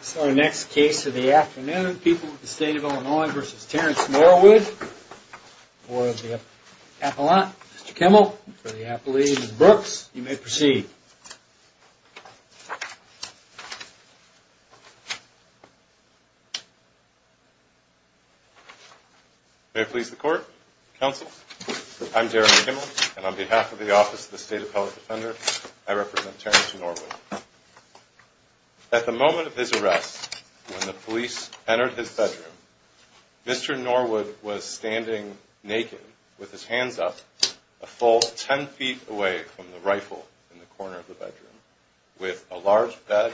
So our next case of the afternoon, people of the state of Illinois versus Terrence Norwood. For the appellant, Mr. Kimmel, and for the appellate, Ms. Brooks, you may proceed. May it please the court, counsel, I'm Jeremy Kimmel, and on behalf of the Office of the State Appellate Defender, I represent Terrence Norwood. At the moment of his arrest, when the police entered his bedroom, Mr. Norwood was standing naked with his hands up a full 10 feet away from the rifle in the corner of the bedroom with a large bed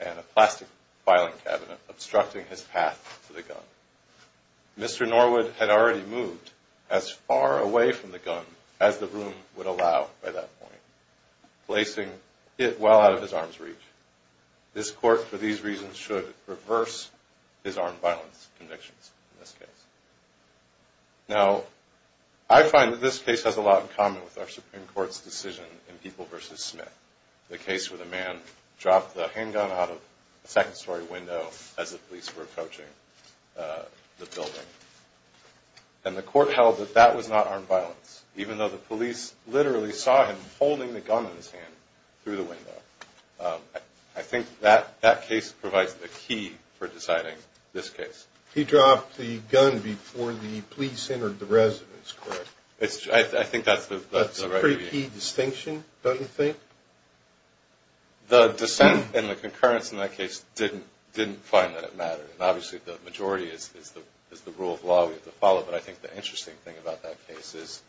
and a plastic filing cabinet obstructing his path to the gun. Mr. Norwood had already moved as far away from the gun as the room would allow by that point, placing it well out of his arm's reach. This court, for these reasons, should reverse his armed violence convictions in this case. Now, I find that this case has a lot in common with our Supreme Court's decision in People versus Smith, the case where the man dropped the handgun out of a second story window as the police were approaching the building. And the court held that that was not armed violence, even though the police literally saw him holding the gun in his hand through the window. I think that case provides the key for deciding this case. He dropped the gun before the police entered the residence, correct? I think that's the right view. That's a pretty key distinction, don't you think? The dissent and the concurrence in that case didn't find that it mattered. Obviously, the majority is the rule of law we have to follow. But I think the interesting thing about that case is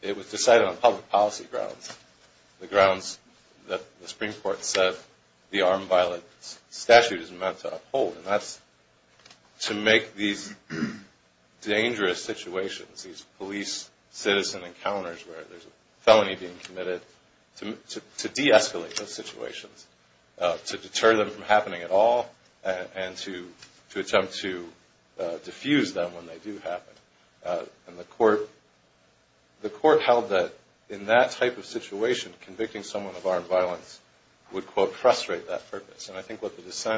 it was decided on public policy grounds, the grounds that the Supreme Court said the armed violence statute is meant to uphold. And that's to make these dangerous situations, these police-citizen encounters where there's a felony being committed, to de-escalate those situations, to deter them from happening at all and to attempt to diffuse them when they do happen. And the court held that in that type of situation, convicting someone of armed violence would, quote, there were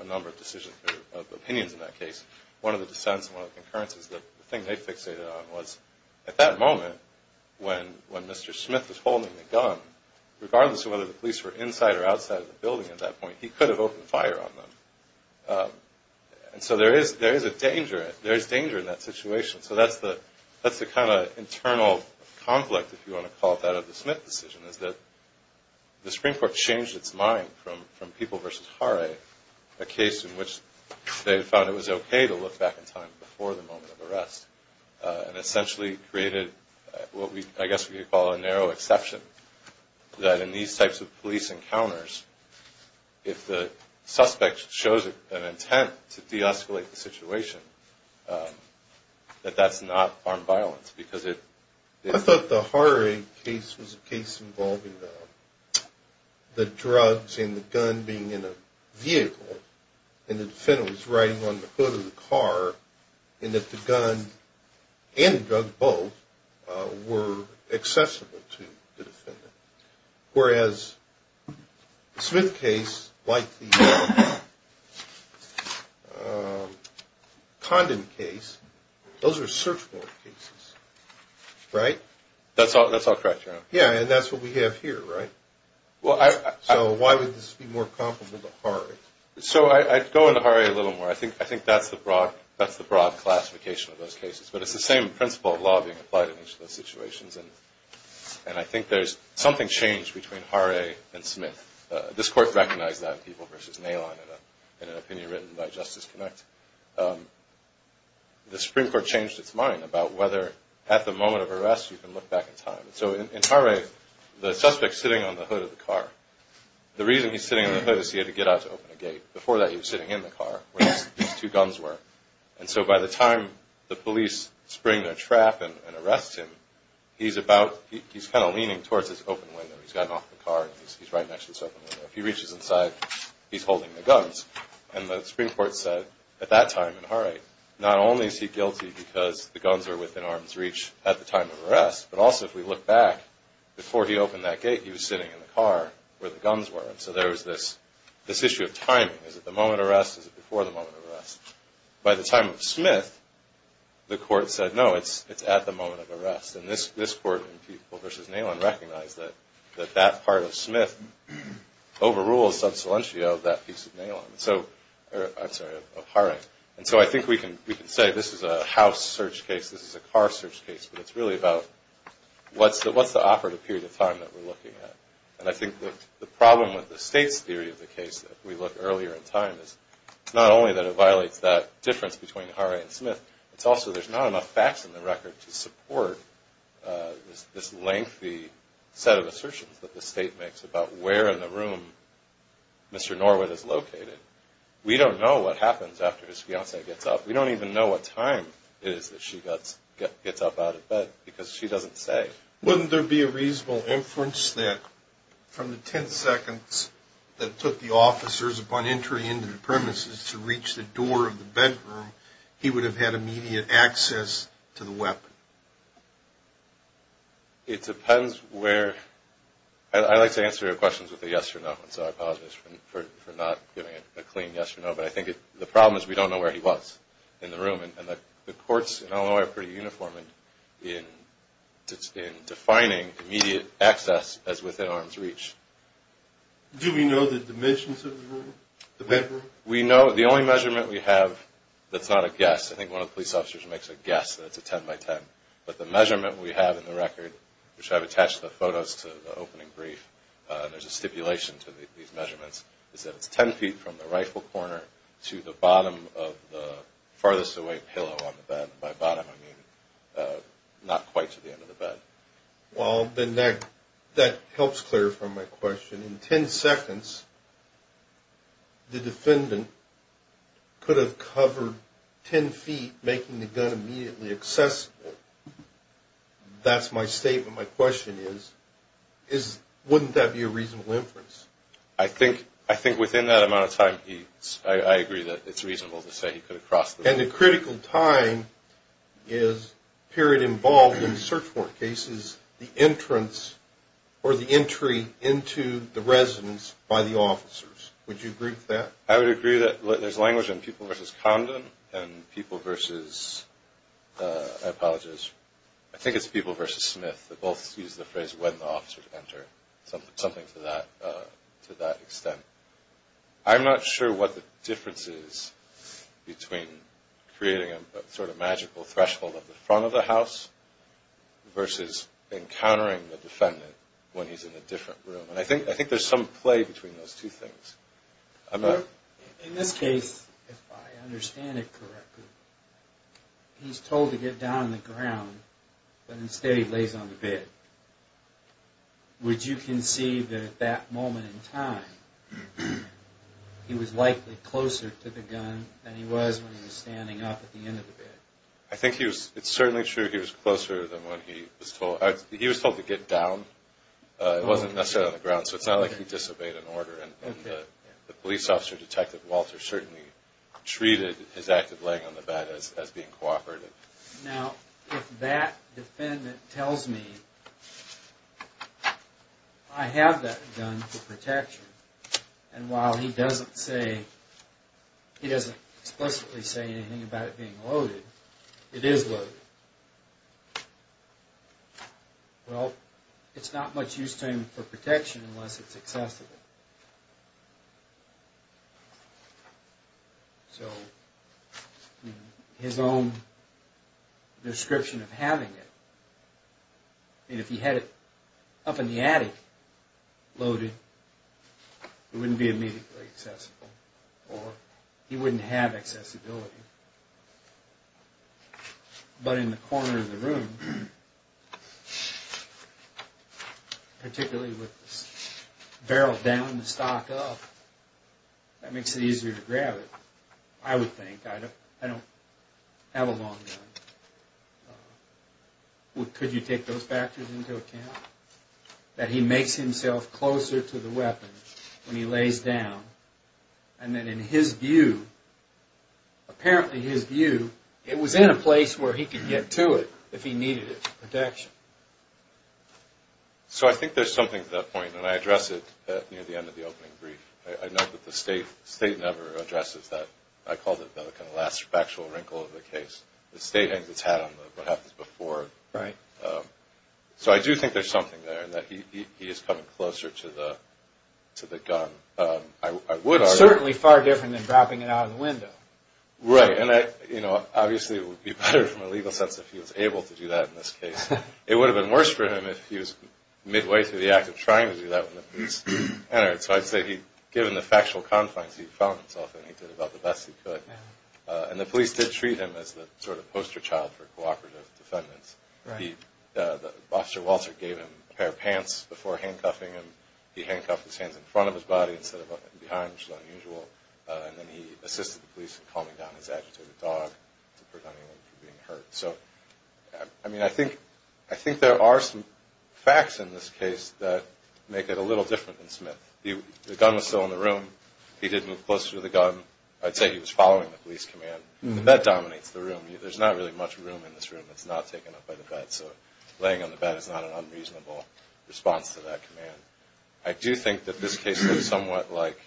a number of opinions in that case. One of the dissents and one of the concurrences, the thing they fixated on was at that moment, when Mr. Smith was holding the gun, regardless of whether the police were inside or outside of the building at that point, he could have opened fire on them. And so there is a danger, there is danger in that situation. So that's the kind of internal conflict, if you want to call it that, of the Smith decision, is that the Supreme Court changed its mind from People v. Harre, a case in which they found it was okay to look back in time before the moment of arrest, and essentially created what I guess we could call a narrow exception, that in these types of police encounters, if the suspect shows an intent to de-escalate the situation, that that's not armed violence because it is. I thought the Harre case was a case involving the drugs and the gun being in a vehicle, and the defendant was riding on the hood of the car, and that the gun and the drug, both, whereas the Smith case, like the Condon case, those are search warrant cases, right? That's all correct, Your Honor. Yeah, and that's what we have here, right? So why would this be more comparable to Harre? So I'd go into Harre a little more. I think that's the broad classification of those cases, but it's the same principle of law being applied in each of those situations, and I think there's something changed between Harre and Smith. This Court recognized that in People v. Nalon in an opinion written by Justice Connect. The Supreme Court changed its mind about whether at the moment of arrest you can look back in time. So in Harre, the suspect's sitting on the hood of the car. The reason he's sitting on the hood is he had to get out to open a gate. Before that, he was sitting in the car where these two guns were, and so by the time the police spring a trap and arrest him, he's kind of leaning towards this open window. He's gotten off the car, and he's right next to this open window. If he reaches inside, he's holding the guns, and the Supreme Court said at that time in Harre, not only is he guilty because the guns are within arm's reach at the time of arrest, but also if we look back, before he opened that gate, he was sitting in the car where the guns were, and so there was this issue of timing. Is it the moment of arrest? Is it before the moment of arrest? By the time of Smith, the Court said, no, it's at the moment of arrest, and this Court in People v. Nalon recognized that that part of Smith overrules sub silentio of Harre. And so I think we can say this is a house search case, this is a car search case, but it's really about what's the operative period of time that we're looking at. And I think that the problem with the State's theory of the case that we look earlier in time is not only that it violates that difference between Harre and Smith, it's also there's not enough facts in the record to support this lengthy set of assertions that the State makes about where in the room Mr. Norwood is located. We don't know what happens after his fiancee gets up. We don't even know what time it is that she gets up out of bed because she doesn't say. Wouldn't there be a reasonable inference that from the ten seconds that took the officers upon entry into the premises to reach the door of the bedroom, he would have had immediate access to the weapon? It depends where – I like to answer your questions with a yes or no, and so I apologize for not giving a clean yes or no, but I think the problem is we don't know where he was in the room. And the courts in Illinois are pretty uniform in defining immediate access as within arm's reach. Do we know the dimensions of the room, the bedroom? We know – the only measurement we have that's not a guess, I think one of the police officers makes a guess that it's a ten by ten, but the measurement we have in the record, which I've attached the photos to the opening brief, there's a stipulation to these measurements, is that it's ten feet from the rifle corner to the bottom of the farthest away pillow on the bed. By bottom, I mean not quite to the end of the bed. Well, Ben, that helps clarify my question. In ten seconds, the defendant could have covered ten feet, making the gun immediately accessible. That's my statement. My question is wouldn't that be a reasonable inference? I think within that amount of time, I agree that it's reasonable to say he could have crossed the bed. And the critical time is period involved in search warrant cases, the entrance or the entry into the residence by the officers. Would you agree with that? I would agree that there's language in people versus Condon and people versus – I apologize. I think it's people versus Smith. They both use the phrase when the officers enter, something to that extent. I'm not sure what the difference is between creating a sort of magical threshold at the front of the house versus encountering the defendant when he's in a different room. And I think there's some play between those two things. In this case, if I understand it correctly, he's told to get down on the ground, but instead he lays on the bed. Would you concede that at that moment in time, he was likely closer to the gun than he was when he was standing up at the end of the bed? I think it's certainly true he was closer than when he was told. He was told to get down. It wasn't necessarily on the ground, so it's not like he disobeyed an order. And the police officer, Detective Walter, certainly treated his act of laying on the bed as being cooperative. Now, if that defendant tells me I have that gun for protection, and while he doesn't explicitly say anything about it being loaded, it is loaded. Well, it's not much use to him for protection unless it's accessible. So his own description of having it, if he had it up in the attic loaded, it wouldn't be immediately accessible, or he wouldn't have accessibility. But in the corner of the room, particularly with the barrel down and the stock up, that makes it easier to grab it, I would think. I don't have a long gun. Could you take those factors into account? That he makes himself closer to the weapon when he lays down, and then in his view, apparently his view, it was in a place where he could get to it if he needed it for protection. So I think there's something to that point, and I address it near the end of the opening brief. I note that the State never addresses that. I called it the last factual wrinkle of the case. The State hangs its hat on what happens before. So I do think there's something there, that he is coming closer to the gun. It's certainly far different than dropping it out of the window. Right, and obviously it would be better from a legal sense if he was able to do that in this case. It would have been worse for him if he was midway through the act of trying to do that when the police entered. So I'd say given the factual confines, he found himself and he did about the best he could. And the police did treat him as the sort of poster child for cooperative defendants. The officer Walter gave him a pair of pants before handcuffing him. He handcuffed his hands in front of his body instead of behind, which is unusual. And then he assisted the police in calming down his agitated dog to prevent anyone from being hurt. So I mean, I think there are some facts in this case that make it a little different than Smith. The gun was still in the room. He did move closer to the gun. I'd say he was following the police command. The bed dominates the room. There's not really much room in this room that's not taken up by the bed. So laying on the bed is not an unreasonable response to that command. I do think that this case is somewhat like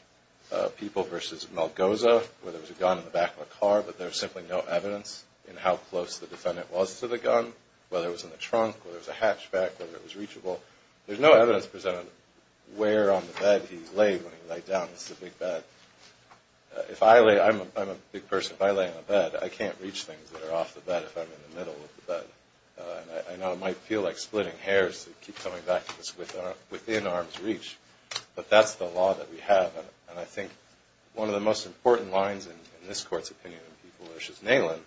People v. Malgoza, where there was a gun in the back of a car, but there's simply no evidence in how close the defendant was to the gun, whether it was in the trunk, whether it was a hatchback, whether it was reachable. There's no evidence presented where on the bed he laid when he laid down. This is a big bed. If I lay – I'm a big person. If I lay on a bed, I can't reach things that are off the bed if I'm in the middle of the bed. And I know it might feel like splitting hairs that keep coming back to us within arm's reach, but that's the law that we have. And I think one of the most important lines in this Court's opinion in People v. Nalin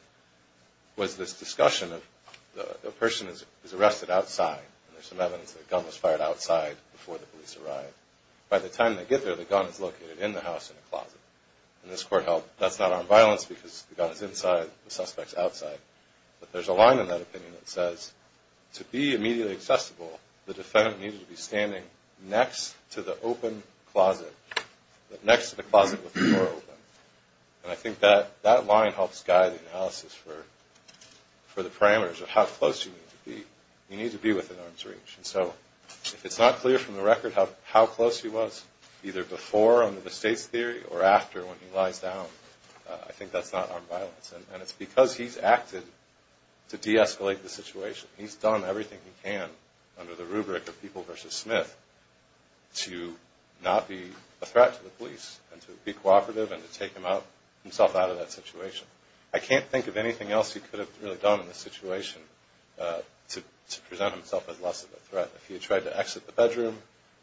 was this discussion of the person is arrested outside, and there's some evidence that a gun was fired outside before the police arrived. By the time they get there, the gun is located in the house in a closet. And this Court held that's not armed violence because the gun is inside, the suspect is outside. But there's a line in that opinion that says to be immediately accessible, the defendant needed to be standing next to the open closet, next to the closet with the door open. And I think that line helps guide the analysis for the parameters of how close you need to be. You need to be within arm's reach. And so if it's not clear from the record how close he was either before under the State's theory or after when he lies down, I think that's not armed violence. And it's because he's acted to de-escalate the situation. He's done everything he can under the rubric of People v. Smith to not be a threat to the police and to be cooperative and to take himself out of that situation. I can't think of anything else he could have really done in this situation to present himself as less of a threat. If he had tried to exit the bedroom,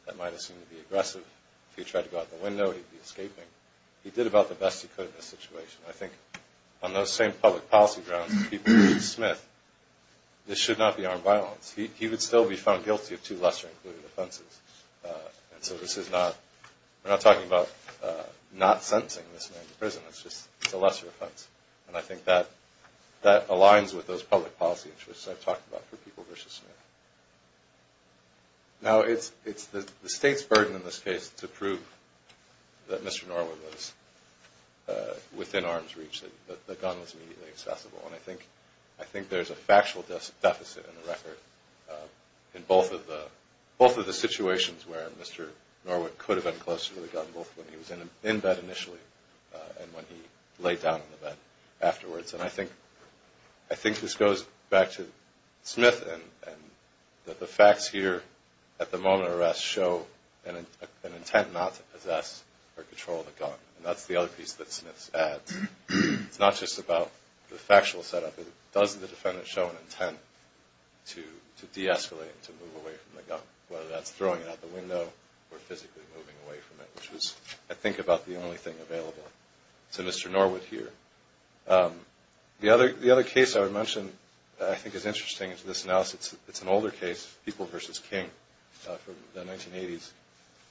that might have seemed to be aggressive. If he had tried to go out the window, he'd be escaping. He did about the best he could in this situation. I think on those same public policy grounds, People v. Smith, this should not be armed violence. He would still be found guilty of two lesser-included offenses. And so we're not talking about not sentencing this man to prison. It's just the lesser offense. And I think that aligns with those public policy interests I've talked about for People v. Smith. Now, it's the State's burden in this case to prove that Mr. Norwood was within arm's reach, that the gun was immediately accessible. And I think there's a factual deficit in the record in both of the situations where Mr. Norwood could have been closer to the gun, both when he was in bed initially and when he laid down in the bed afterwards. And I think this goes back to Smith, and that the facts here at the moment of arrest show an intent not to possess or control the gun. And that's the other piece that Smith adds. It's not just about the factual setup. It does, the defendant, show an intent to de-escalate and to move away from the gun, whether that's throwing it out the window or physically moving away from it, which was, I think, about the only thing available to Mr. Norwood here. The other case I would mention that I think is interesting to this analysis, it's an older case, People v. King from the 1980s.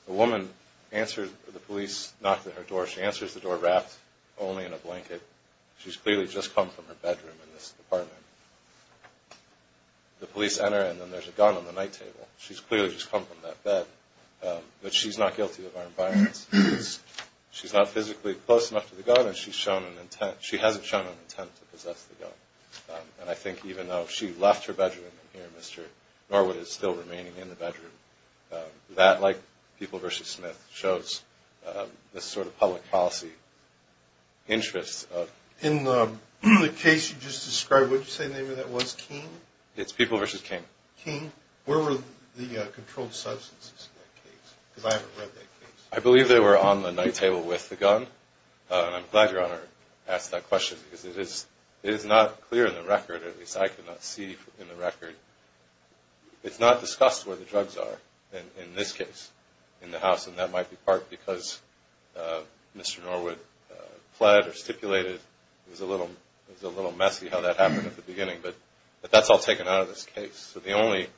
A woman answers the police knock at her door. She answers the door wrapped only in a blanket. She's clearly just come from her bedroom in this apartment. The police enter, and then there's a gun on the night table. She's clearly just come from that bed. But she's not guilty of armed violence. She's not physically close enough to the gun, and she hasn't shown an intent to possess the gun. And I think even though she left her bedroom in here, Mr. Norwood is still remaining in the bedroom. That, like People v. Smith, shows this sort of public policy interest. In the case you just described, what did you say the name of that was? King? It's People v. King. King. Where were the controlled substances in that case? Because I haven't read that case. I believe they were on the night table with the gun. And I'm glad Your Honor asked that question because it is not clear in the record, or at least I could not see in the record. It's not discussed where the drugs are in this case in the house, and that might be part because Mr. Norwood pled or stipulated. It was a little messy how that happened at the beginning. But that's all taken out of this case. So the only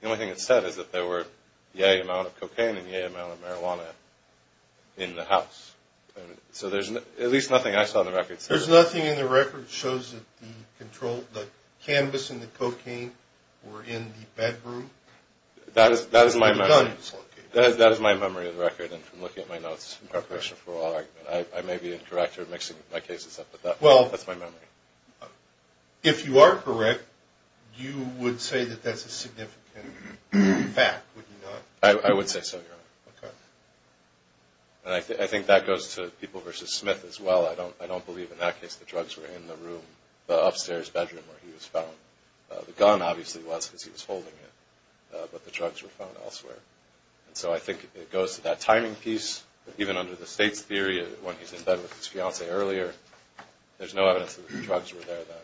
thing that's said is that there were yay amount of cocaine and yay amount of marijuana in the house. So there's at least nothing I saw in the records. There's nothing in the record that shows that the cannabis and the cocaine were in the bedroom? That is my memory. Where the gun was located. That is my memory of the record, and from looking at my notes in preparation for our argument. I may be incorrect or mixing my cases up, but that's my memory. If you are correct, you would say that that's a significant fact, would you not? I would say so, Your Honor. Okay. And I think that goes to People v. Smith as well. I don't believe in that case the drugs were in the room, the upstairs bedroom where he was found. The gun obviously was because he was holding it, but the drugs were found elsewhere. So I think it goes to that timing piece. Even under the state's theory, when he's in bed with his fiancée earlier, there's no evidence that the drugs were there then.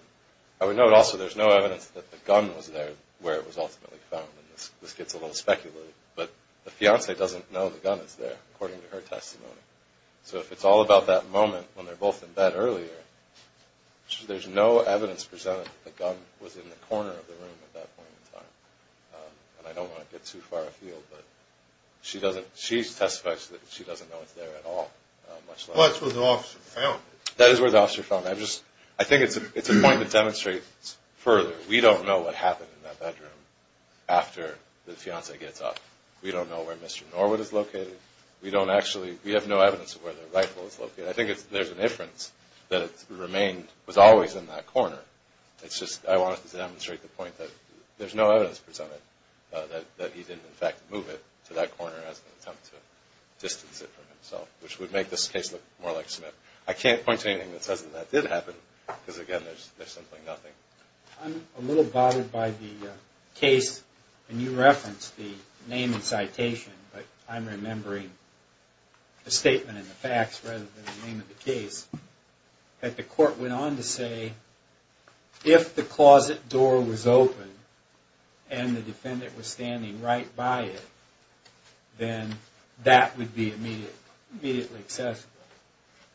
I would note also there's no evidence that the gun was there where it was ultimately found, and this gets a little speculative. But the fiancée doesn't know the gun is there, according to her testimony. So if it's all about that moment when they're both in bed earlier, there's no evidence presented that the gun was in the corner of the room at that point in time. And I don't want to get too far afield, but she testifies that she doesn't know it's there at all. Well, that's where the officer found it. That is where the officer found it. I think it's a point to demonstrate further. We don't know what happened in that bedroom after the fiancée gets up. We don't know where Mr. Norwood is located. We have no evidence of where the rifle is located. I think there's an inference that it was always in that corner. It's just I wanted to demonstrate the point that there's no evidence presented that he didn't in fact move it to that corner as an attempt to distance it from himself, which would make this case look more like Smith. I can't point to anything that says that that did happen because, again, there's simply nothing. I'm a little bothered by the case, and you referenced the name and citation, but I'm remembering the statement and the facts rather than the name of the case, that the court went on to say if the closet door was open and the defendant was standing right by it, then that would be immediately accessible,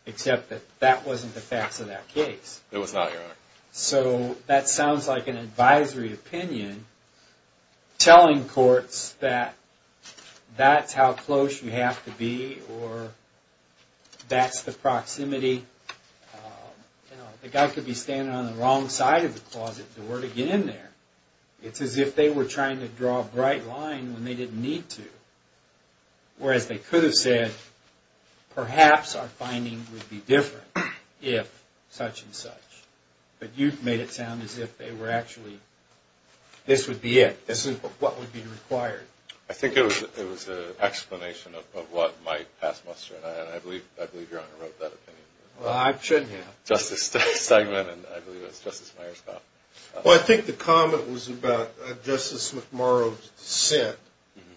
except that that wasn't the facts of that case. It was not, Your Honor. So that sounds like an advisory opinion telling courts that that's how close you have to be or that's the proximity. The guy could be standing on the wrong side of the closet door to get in there. It's as if they were trying to draw a bright line when they didn't need to. Whereas they could have said, perhaps our finding would be different if such and such. But you've made it sound as if they were actually, this would be it. This is what would be required. I think it was an explanation of what might pass muster, and I believe Your Honor wrote that opinion. Well, I shouldn't have. Justice Stegman and I believe it was Justice Myerscough. Well, I think the comment was about Justice McMurrow's dissent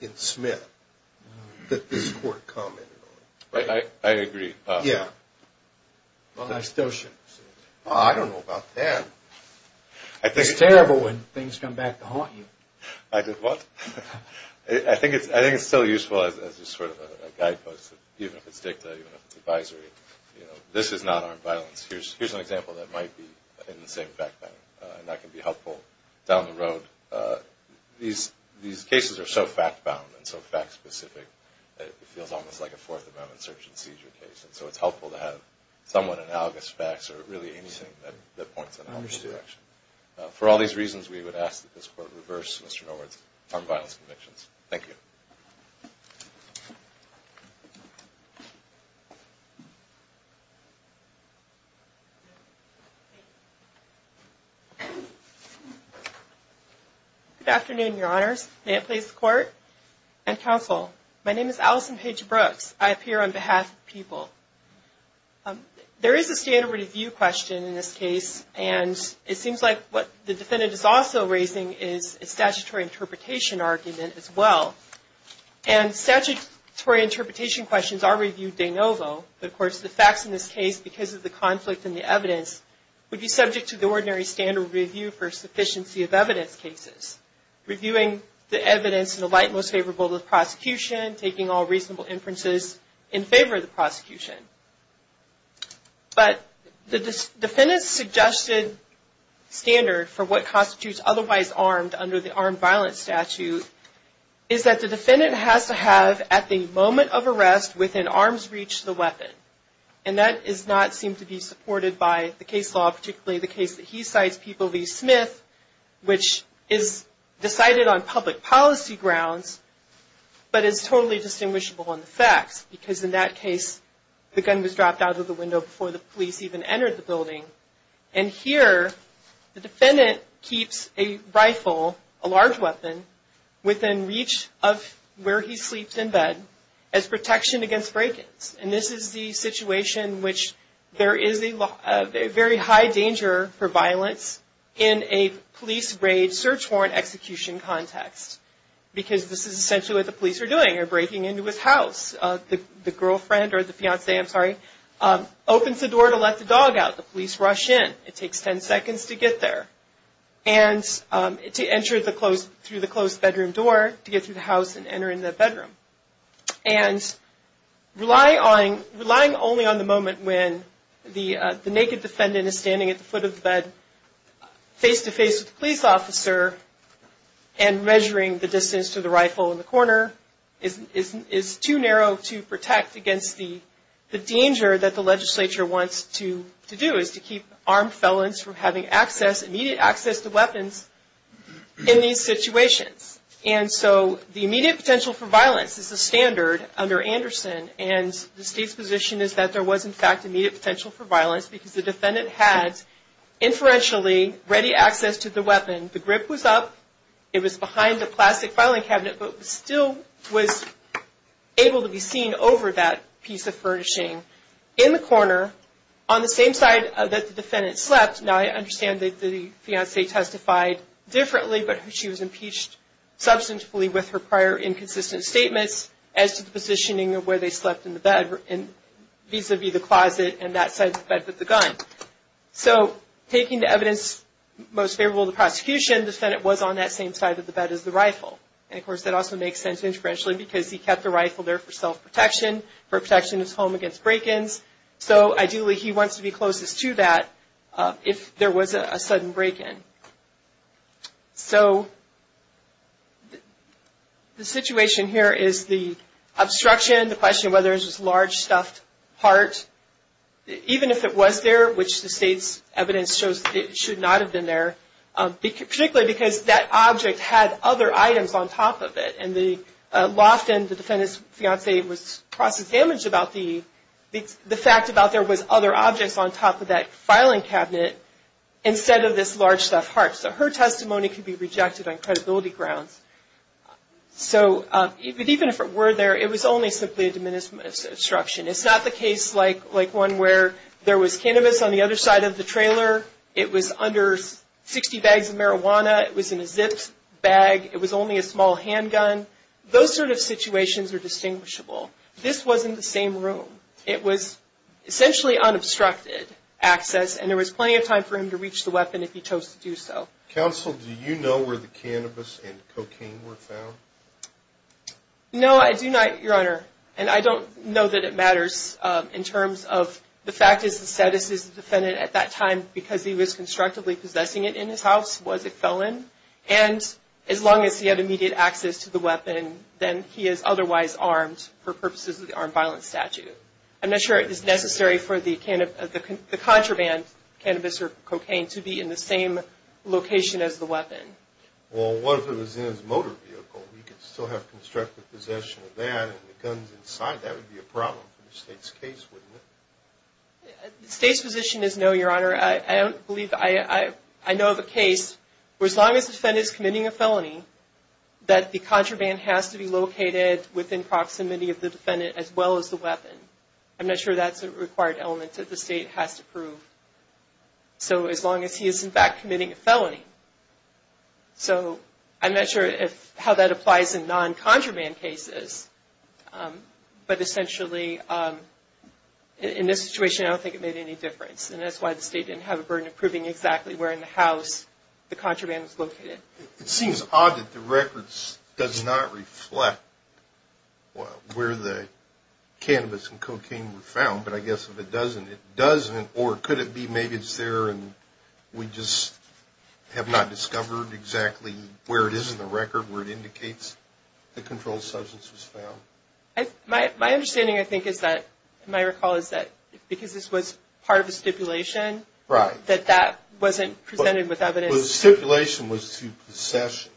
in Smith that this court commented on. I agree. Yeah. Well, I still shouldn't have said that. I don't know about that. It's terrible when things come back to haunt you. I did what? I think it's still useful as just sort of a guidepost, even if it's dicta, even if it's advisory. This is non-armed violence. Here's an example that might be in the same fact-binding, and that can be helpful down the road. These cases are so fact-bound and so fact-specific that it feels almost like a Fourth Amendment search and seizure case. And so it's helpful to have somewhat analogous facts or really anything that points in that direction. I understand. For all these reasons, we would ask that this Court reverse Mr. Norwood's armed violence convictions. Thank you. Thank you. Good afternoon, Your Honors. May it please the Court and Counsel. My name is Allison Paige Brooks. I appear on behalf of the people. There is a standard review question in this case, and it seems like what the defendant is also raising is a statutory interpretation argument as well. And statutory interpretation questions are reviewed de novo. But, of course, the facts in this case, because of the conflict in the evidence, would be subject to the ordinary standard review for sufficiency of evidence cases, reviewing the evidence in the light most favorable to the prosecution, taking all reasonable inferences in favor of the prosecution. But the defendant's suggested standard for what constitutes otherwise armed under the armed violence statute is that the defendant has to have, at the moment of arrest, within arm's reach, the weapon. And that does not seem to be supported by the case law, particularly the case that he cites, People v. Smith, which is decided on public policy grounds but is totally distinguishable in the facts, because in that case, the gun was dropped out of the window before the police even entered the building. And here, the defendant keeps a rifle, a large weapon, within reach of where he sleeps in bed as protection against break-ins. And this is the situation in which there is a very high danger for violence in a police raid search warrant execution context, because this is essentially what the police are doing. They're breaking into his house. The girlfriend or the fiancé, I'm sorry, opens the door to let the dog out. The police rush in. It takes 10 seconds to get there and to enter through the closed bedroom door to get through the house and enter in the bedroom. And relying only on the moment when the naked defendant is standing at the foot of the bed face-to-face with the police officer and measuring the distance to the rifle in the corner is too narrow to protect against the danger that the legislature wants to do, is to keep armed felons from having immediate access to weapons in these situations. And so the immediate potential for violence is the standard under Anderson, and the State's position is that there was, in fact, immediate potential for violence because the defendant had inferentially ready access to the weapon. The grip was up. It was behind the plastic filing cabinet, but still was able to be seen over that piece of furnishing in the corner, on the same side that the defendant slept. Now, I understand that the fiancé testified differently, but she was impeached substantively with her prior inconsistent statements as to the positioning of where they slept in the bed, vis-à-vis the closet and that side of the bed with the gun. So, taking the evidence most favorable to prosecution, the defendant was on that same side of the bed as the rifle. And, of course, that also makes sense inferentially because he kept the rifle there for self-protection, for protection in his home against break-ins. So, ideally, he wants to be closest to that if there was a sudden break-in. So, the situation here is the obstruction, the question of whether it was a large stuffed heart. Even if it was there, which the State's evidence shows it should not have been there, particularly because that object had other items on top of it, and the loft in the defendant's fiancé was processed damage about the fact that there was other objects on top of that filing cabinet instead of this large stuffed heart. So, her testimony could be rejected on credibility grounds. So, even if it were there, it was only simply a diminished obstruction. It's not the case like one where there was cannabis on the other side of the trailer, it was under 60 bags of marijuana, it was in a zipped bag, it was only a small handgun. Those sort of situations are distinguishable. This was in the same room. It was essentially unobstructed access, and there was plenty of time for him to reach the weapon if he chose to do so. Counsel, do you know where the cannabis and cocaine were found? No, I do not, Your Honor. And I don't know that it matters in terms of the fact that the status of the defendant at that time, because he was constructively possessing it in his house, was a felon. And as long as he had immediate access to the weapon, then he is otherwise armed for purposes of the armed violence statute. I'm not sure it is necessary for the contraband, cannabis or cocaine, to be in the same location as the weapon. Well, what if it was in his motor vehicle? He could still have constructive possession of that and the guns inside. That would be a problem for the State's case, wouldn't it? The State's position is no, Your Honor. I don't believe, I know of a case where as long as the defendant is committing a felony, that the contraband has to be located within proximity of the defendant as well as the weapon. I'm not sure that's a required element that the State has to prove. So, as long as he is, in fact, committing a felony. So, I'm not sure how that applies in non-contraband cases. But essentially, in this situation, I don't think it made any difference. And that's why the State didn't have a burden of proving exactly where in the house the contraband was located. It seems odd that the records does not reflect where the cannabis and cocaine were found. But I guess if it doesn't, it doesn't. Or could it be maybe it's there and we just have not discovered exactly where it is in the record, where it indicates the controlled substance was found? My understanding, I think, is that, if I recall, is that because this was part of a stipulation, that that wasn't presented with evidence. Well, the stipulation was to possession.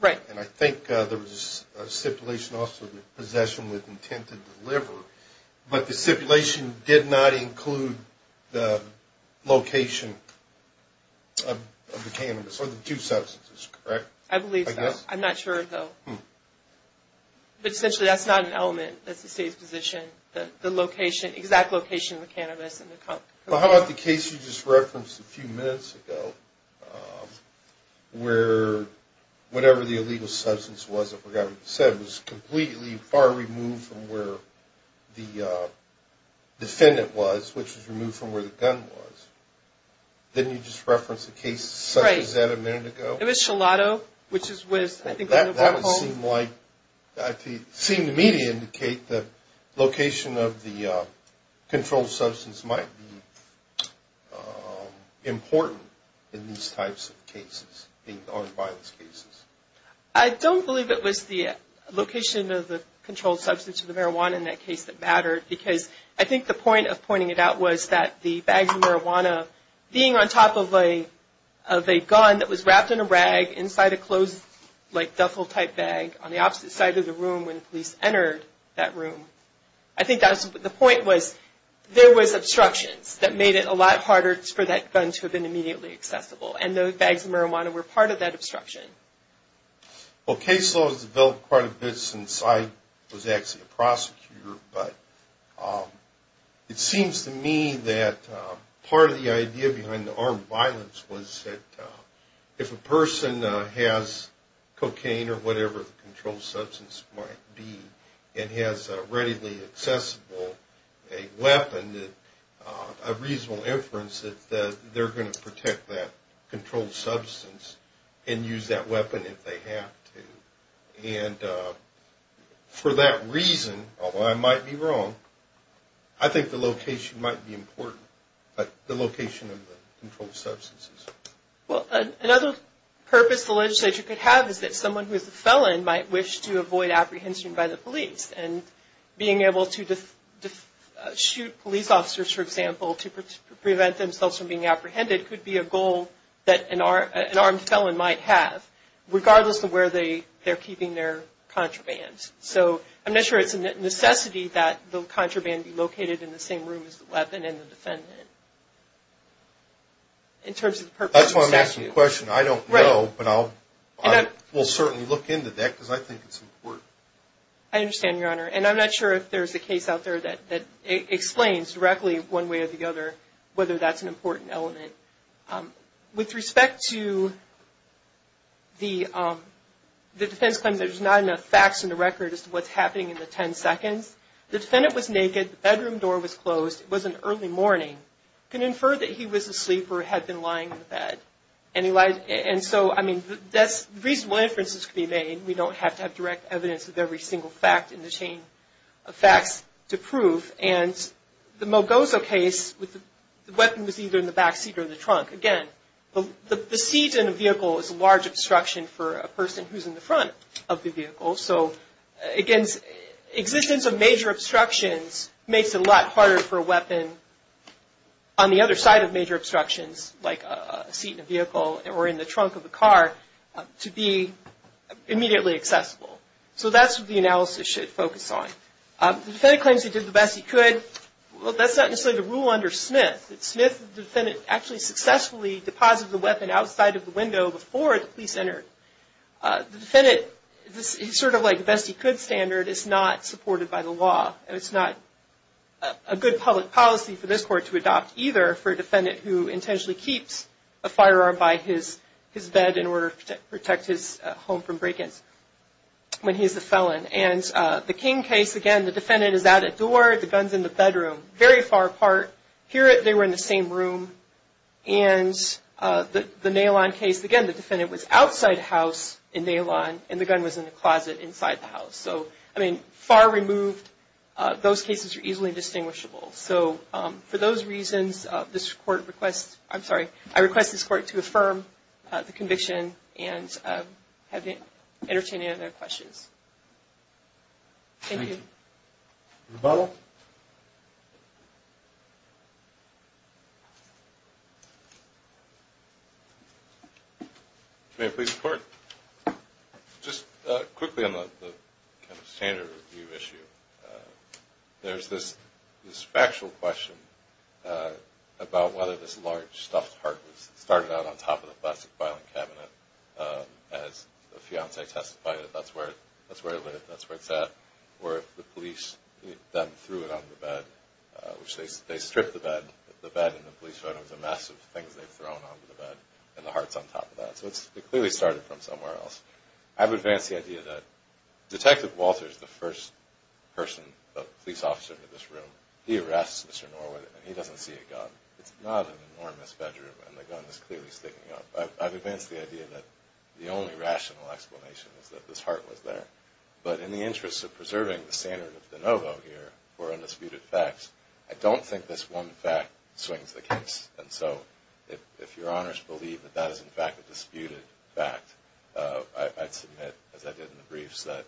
Right. And I think there was a stipulation also to possession with intent to deliver. But the stipulation did not include the location of the cannabis or the two substances, correct? I believe so. I'm not sure, though. But essentially, that's not an element. That's the State's position, the exact location of the cannabis and the cocaine. Well, how about the case you just referenced a few minutes ago where whatever the illegal substance was, I forgot what you said, was completely far removed from where the defendant was, which was removed from where the gun was. Didn't you just reference a case such as that a minute ago? It was Shilato, which was, I think, a mobile home. That would seem to me to indicate the location of the controlled substance might be important in these types of cases, being armed violence cases. I don't believe it was the location of the controlled substance of the marijuana in that case that mattered, because I think the point of pointing it out was that the bags of marijuana being on top of a gun that was wrapped in a rag inside a closed, like, duffel-type bag on the opposite side of the room when the police entered that room, I think the point was there was obstructions that made it a lot harder for that gun to have been immediately accessible. And those bags of marijuana were part of that obstruction. Well, case law has developed quite a bit since I was actually a prosecutor. But it seems to me that part of the idea behind the armed violence was that if a person has cocaine or whatever the controlled substance might be and has a readily accessible weapon, a reasonable inference that they're going to protect that controlled substance and use that weapon if they have to. And for that reason, although I might be wrong, I think the location might be important, like the location of the controlled substances. Well, another purpose the legislature could have is that someone who is a felon might wish to avoid apprehension by the police, and being able to shoot police officers, for example, to prevent themselves from being apprehended could be a goal that an armed felon might have, regardless of where they're keeping their contraband. So I'm not sure it's a necessity that the contraband be located in the same room as the weapon and the defendant in terms of the purpose of the statute. That's why I'm asking the question. I don't know, but I will certainly look into that because I think it's important. I understand, Your Honor. And I'm not sure if there's a case out there that explains directly one way or the other whether that's an important element. With respect to the defense claim that there's not enough facts in the record as to what's happening in the 10 seconds, the defendant was naked, the bedroom door was closed. It was an early morning. You can infer that he was asleep or had been lying in bed. And so, I mean, reasonable inferences could be made. We don't have to have direct evidence of every single fact in the chain of facts to prove. And the Mogoso case, the weapon was either in the back seat or the trunk. Again, the seat in a vehicle is a large obstruction for a person who's in the front of the vehicle. So, again, existence of major obstructions makes it a lot harder for a weapon on the other side of major obstructions, like a seat in a vehicle or in the trunk of a car, to be immediately accessible. So that's what the analysis should focus on. The defendant claims he did the best he could. Well, that's not necessarily the rule under Smith. In Smith, the defendant actually successfully deposited the weapon outside of the window before the police entered. The defendant, sort of like the best he could standard, is not supported by the law, and it's not a good public policy for this court to adopt either for a defendant who intentionally keeps a firearm by his bed in order to protect his home from break-ins when he's a felon. And the King case, again, the defendant is out at door, the gun's in the bedroom, very far apart. Here, they were in the same room. And the Nalon case, again, the defendant was outside the house in Nalon, and the gun was in the closet inside the house. So, I mean, far removed. Those cases are easily distinguishable. So for those reasons, I request this court to affirm the conviction and entertain any other questions. Thank you. Rebuttal. May I please report? Just quickly on the kind of standard review issue. There's this factual question about whether this large stuffed heart was started out on top of the plastic filing cabinet. As the fiancé testified, that's where it lived, that's where it's at, or if the police then threw it on the bed, which they stripped the bed, the bed and the police found it was a mess of things they'd thrown onto the bed, and the heart's on top of that. So it clearly started from somewhere else. I would advance the idea that Detective Walters, the first person, the police officer in this room, he arrests Mr. Norwood, and he doesn't see a gun. It's not an enormous bedroom, and the gun is clearly sticking out. I would advance the idea that the only rational explanation is that this heart was there. But in the interest of preserving the standard of de novo here for undisputed facts, I don't think this one fact swings the case. And so if Your Honors believe that that is, in fact, a disputed fact, I'd submit, as I did in the briefs, that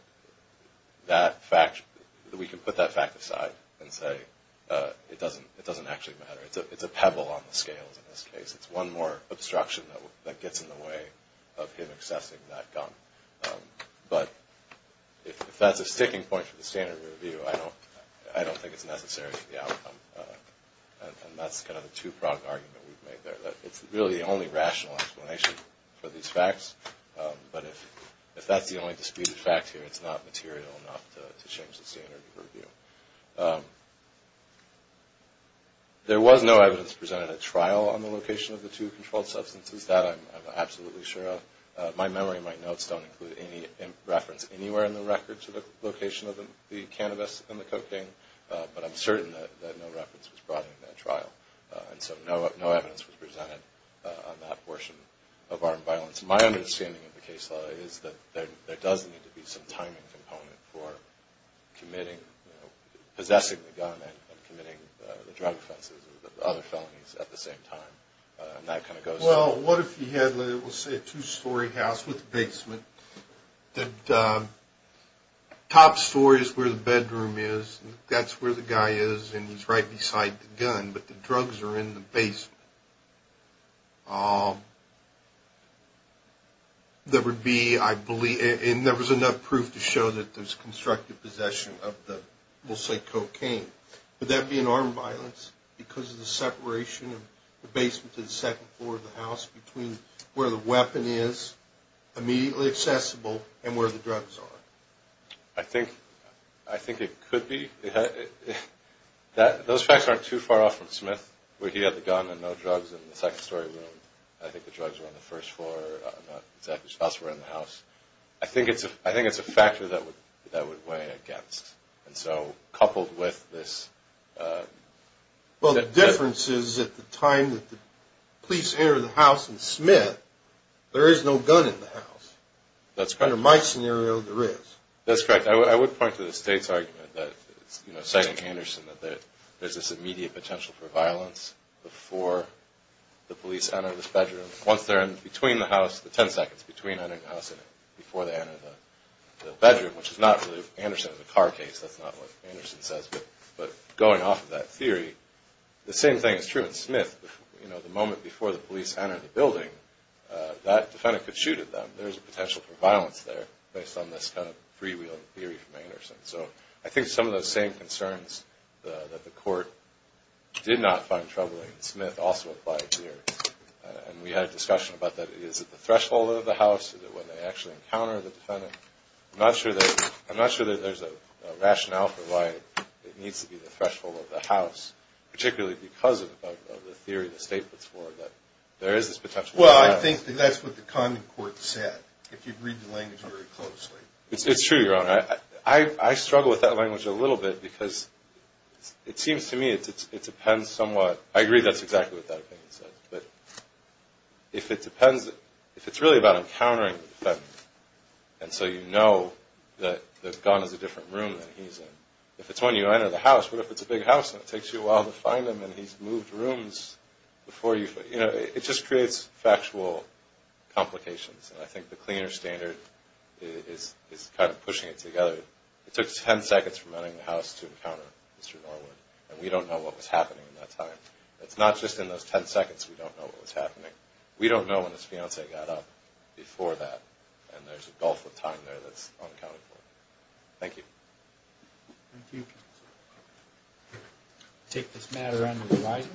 we can put that fact aside and say it doesn't actually matter. It's a pebble on the scales in this case. It's one more obstruction that gets in the way of him accessing that gun. But if that's a sticking point for the standard review, I don't think it's necessary for the outcome. And that's kind of the two-pronged argument we've made there, that it's really the only rational explanation for these facts. But if that's the only disputed fact here, it's not material enough to change the standard of review. There was no evidence presented at trial on the location of the two controlled substances. That I'm absolutely sure of. My memory and my notes don't include any reference anywhere in the record to the location of the cannabis and the cocaine. But I'm certain that no reference was brought into that trial. And so no evidence was presented on that portion of armed violence. My understanding of the case law is that there does need to be some timing component for committing, possessing the gun and committing the drug offenses or the other felonies at the same time. And that kind of goes to the... Well, what if you had, let's say, a two-story house with a basement, that the top story is where the bedroom is, that's where the guy is, and he's right beside the gun. But the drugs are in the basement. There would be, I believe... And there was enough proof to show that there's constructive possession of the, we'll say, cocaine. Would that be an armed violence because of the separation of the basement to the second floor of the house between where the weapon is, immediately accessible, and where the drugs are? I think it could be. Those facts aren't too far off from Smith, where he had the gun and no drugs in the second-story room. I think the drugs were on the first floor. I'm not exactly sure. The drugs were in the house. I think it's a factor that would weigh against. And so coupled with this... Well, the difference is, at the time that the police enter the house in Smith, there is no gun in the house. That's correct. Under my scenario, there is. That's correct. I would point to the State's argument that, you know, citing Anderson, that there's this immediate potential for violence before the police enter this bedroom. Once they're in between the house, the 10 seconds between entering the house and before they enter the bedroom, which is not really... Anderson has a car case. That's not what Anderson says. But going off of that theory, the same thing is true in Smith. You know, the moment before the police enter the building, that defendant could shoot at them. There's a potential for violence there based on this kind of freewheeling theory from Anderson. So I think some of those same concerns that the court did not find troubling in Smith also apply here. And we had a discussion about that. Is it the threshold of the house? Is it when they actually encounter the defendant? I'm not sure that there's a rationale for why it needs to be the threshold of the house, particularly because of the theory the State puts forward that there is this potential for violence. Well, I think that's what the common court said, if you read the language very closely. It's true, Your Honor. I struggle with that language a little bit because it seems to me it depends somewhat. I agree that's exactly what that opinion says. But if it depends – if it's really about encountering the defendant, and so you know that the gun is a different room than he's in, if it's when you enter the house, what if it's a big house and it takes you a while to find him and he's moved rooms before you – you know, it just creates factual complications. And I think the cleaner standard is kind of pushing it together. It took ten seconds from entering the house to encounter Mr. Norwood, and we don't know what was happening in that time. It's not just in those ten seconds we don't know what was happening. We don't know when his fiancée got up before that, and there's a gulf of time there that's unaccounted for. Thank you. Thank you. We'll take this matter under revising.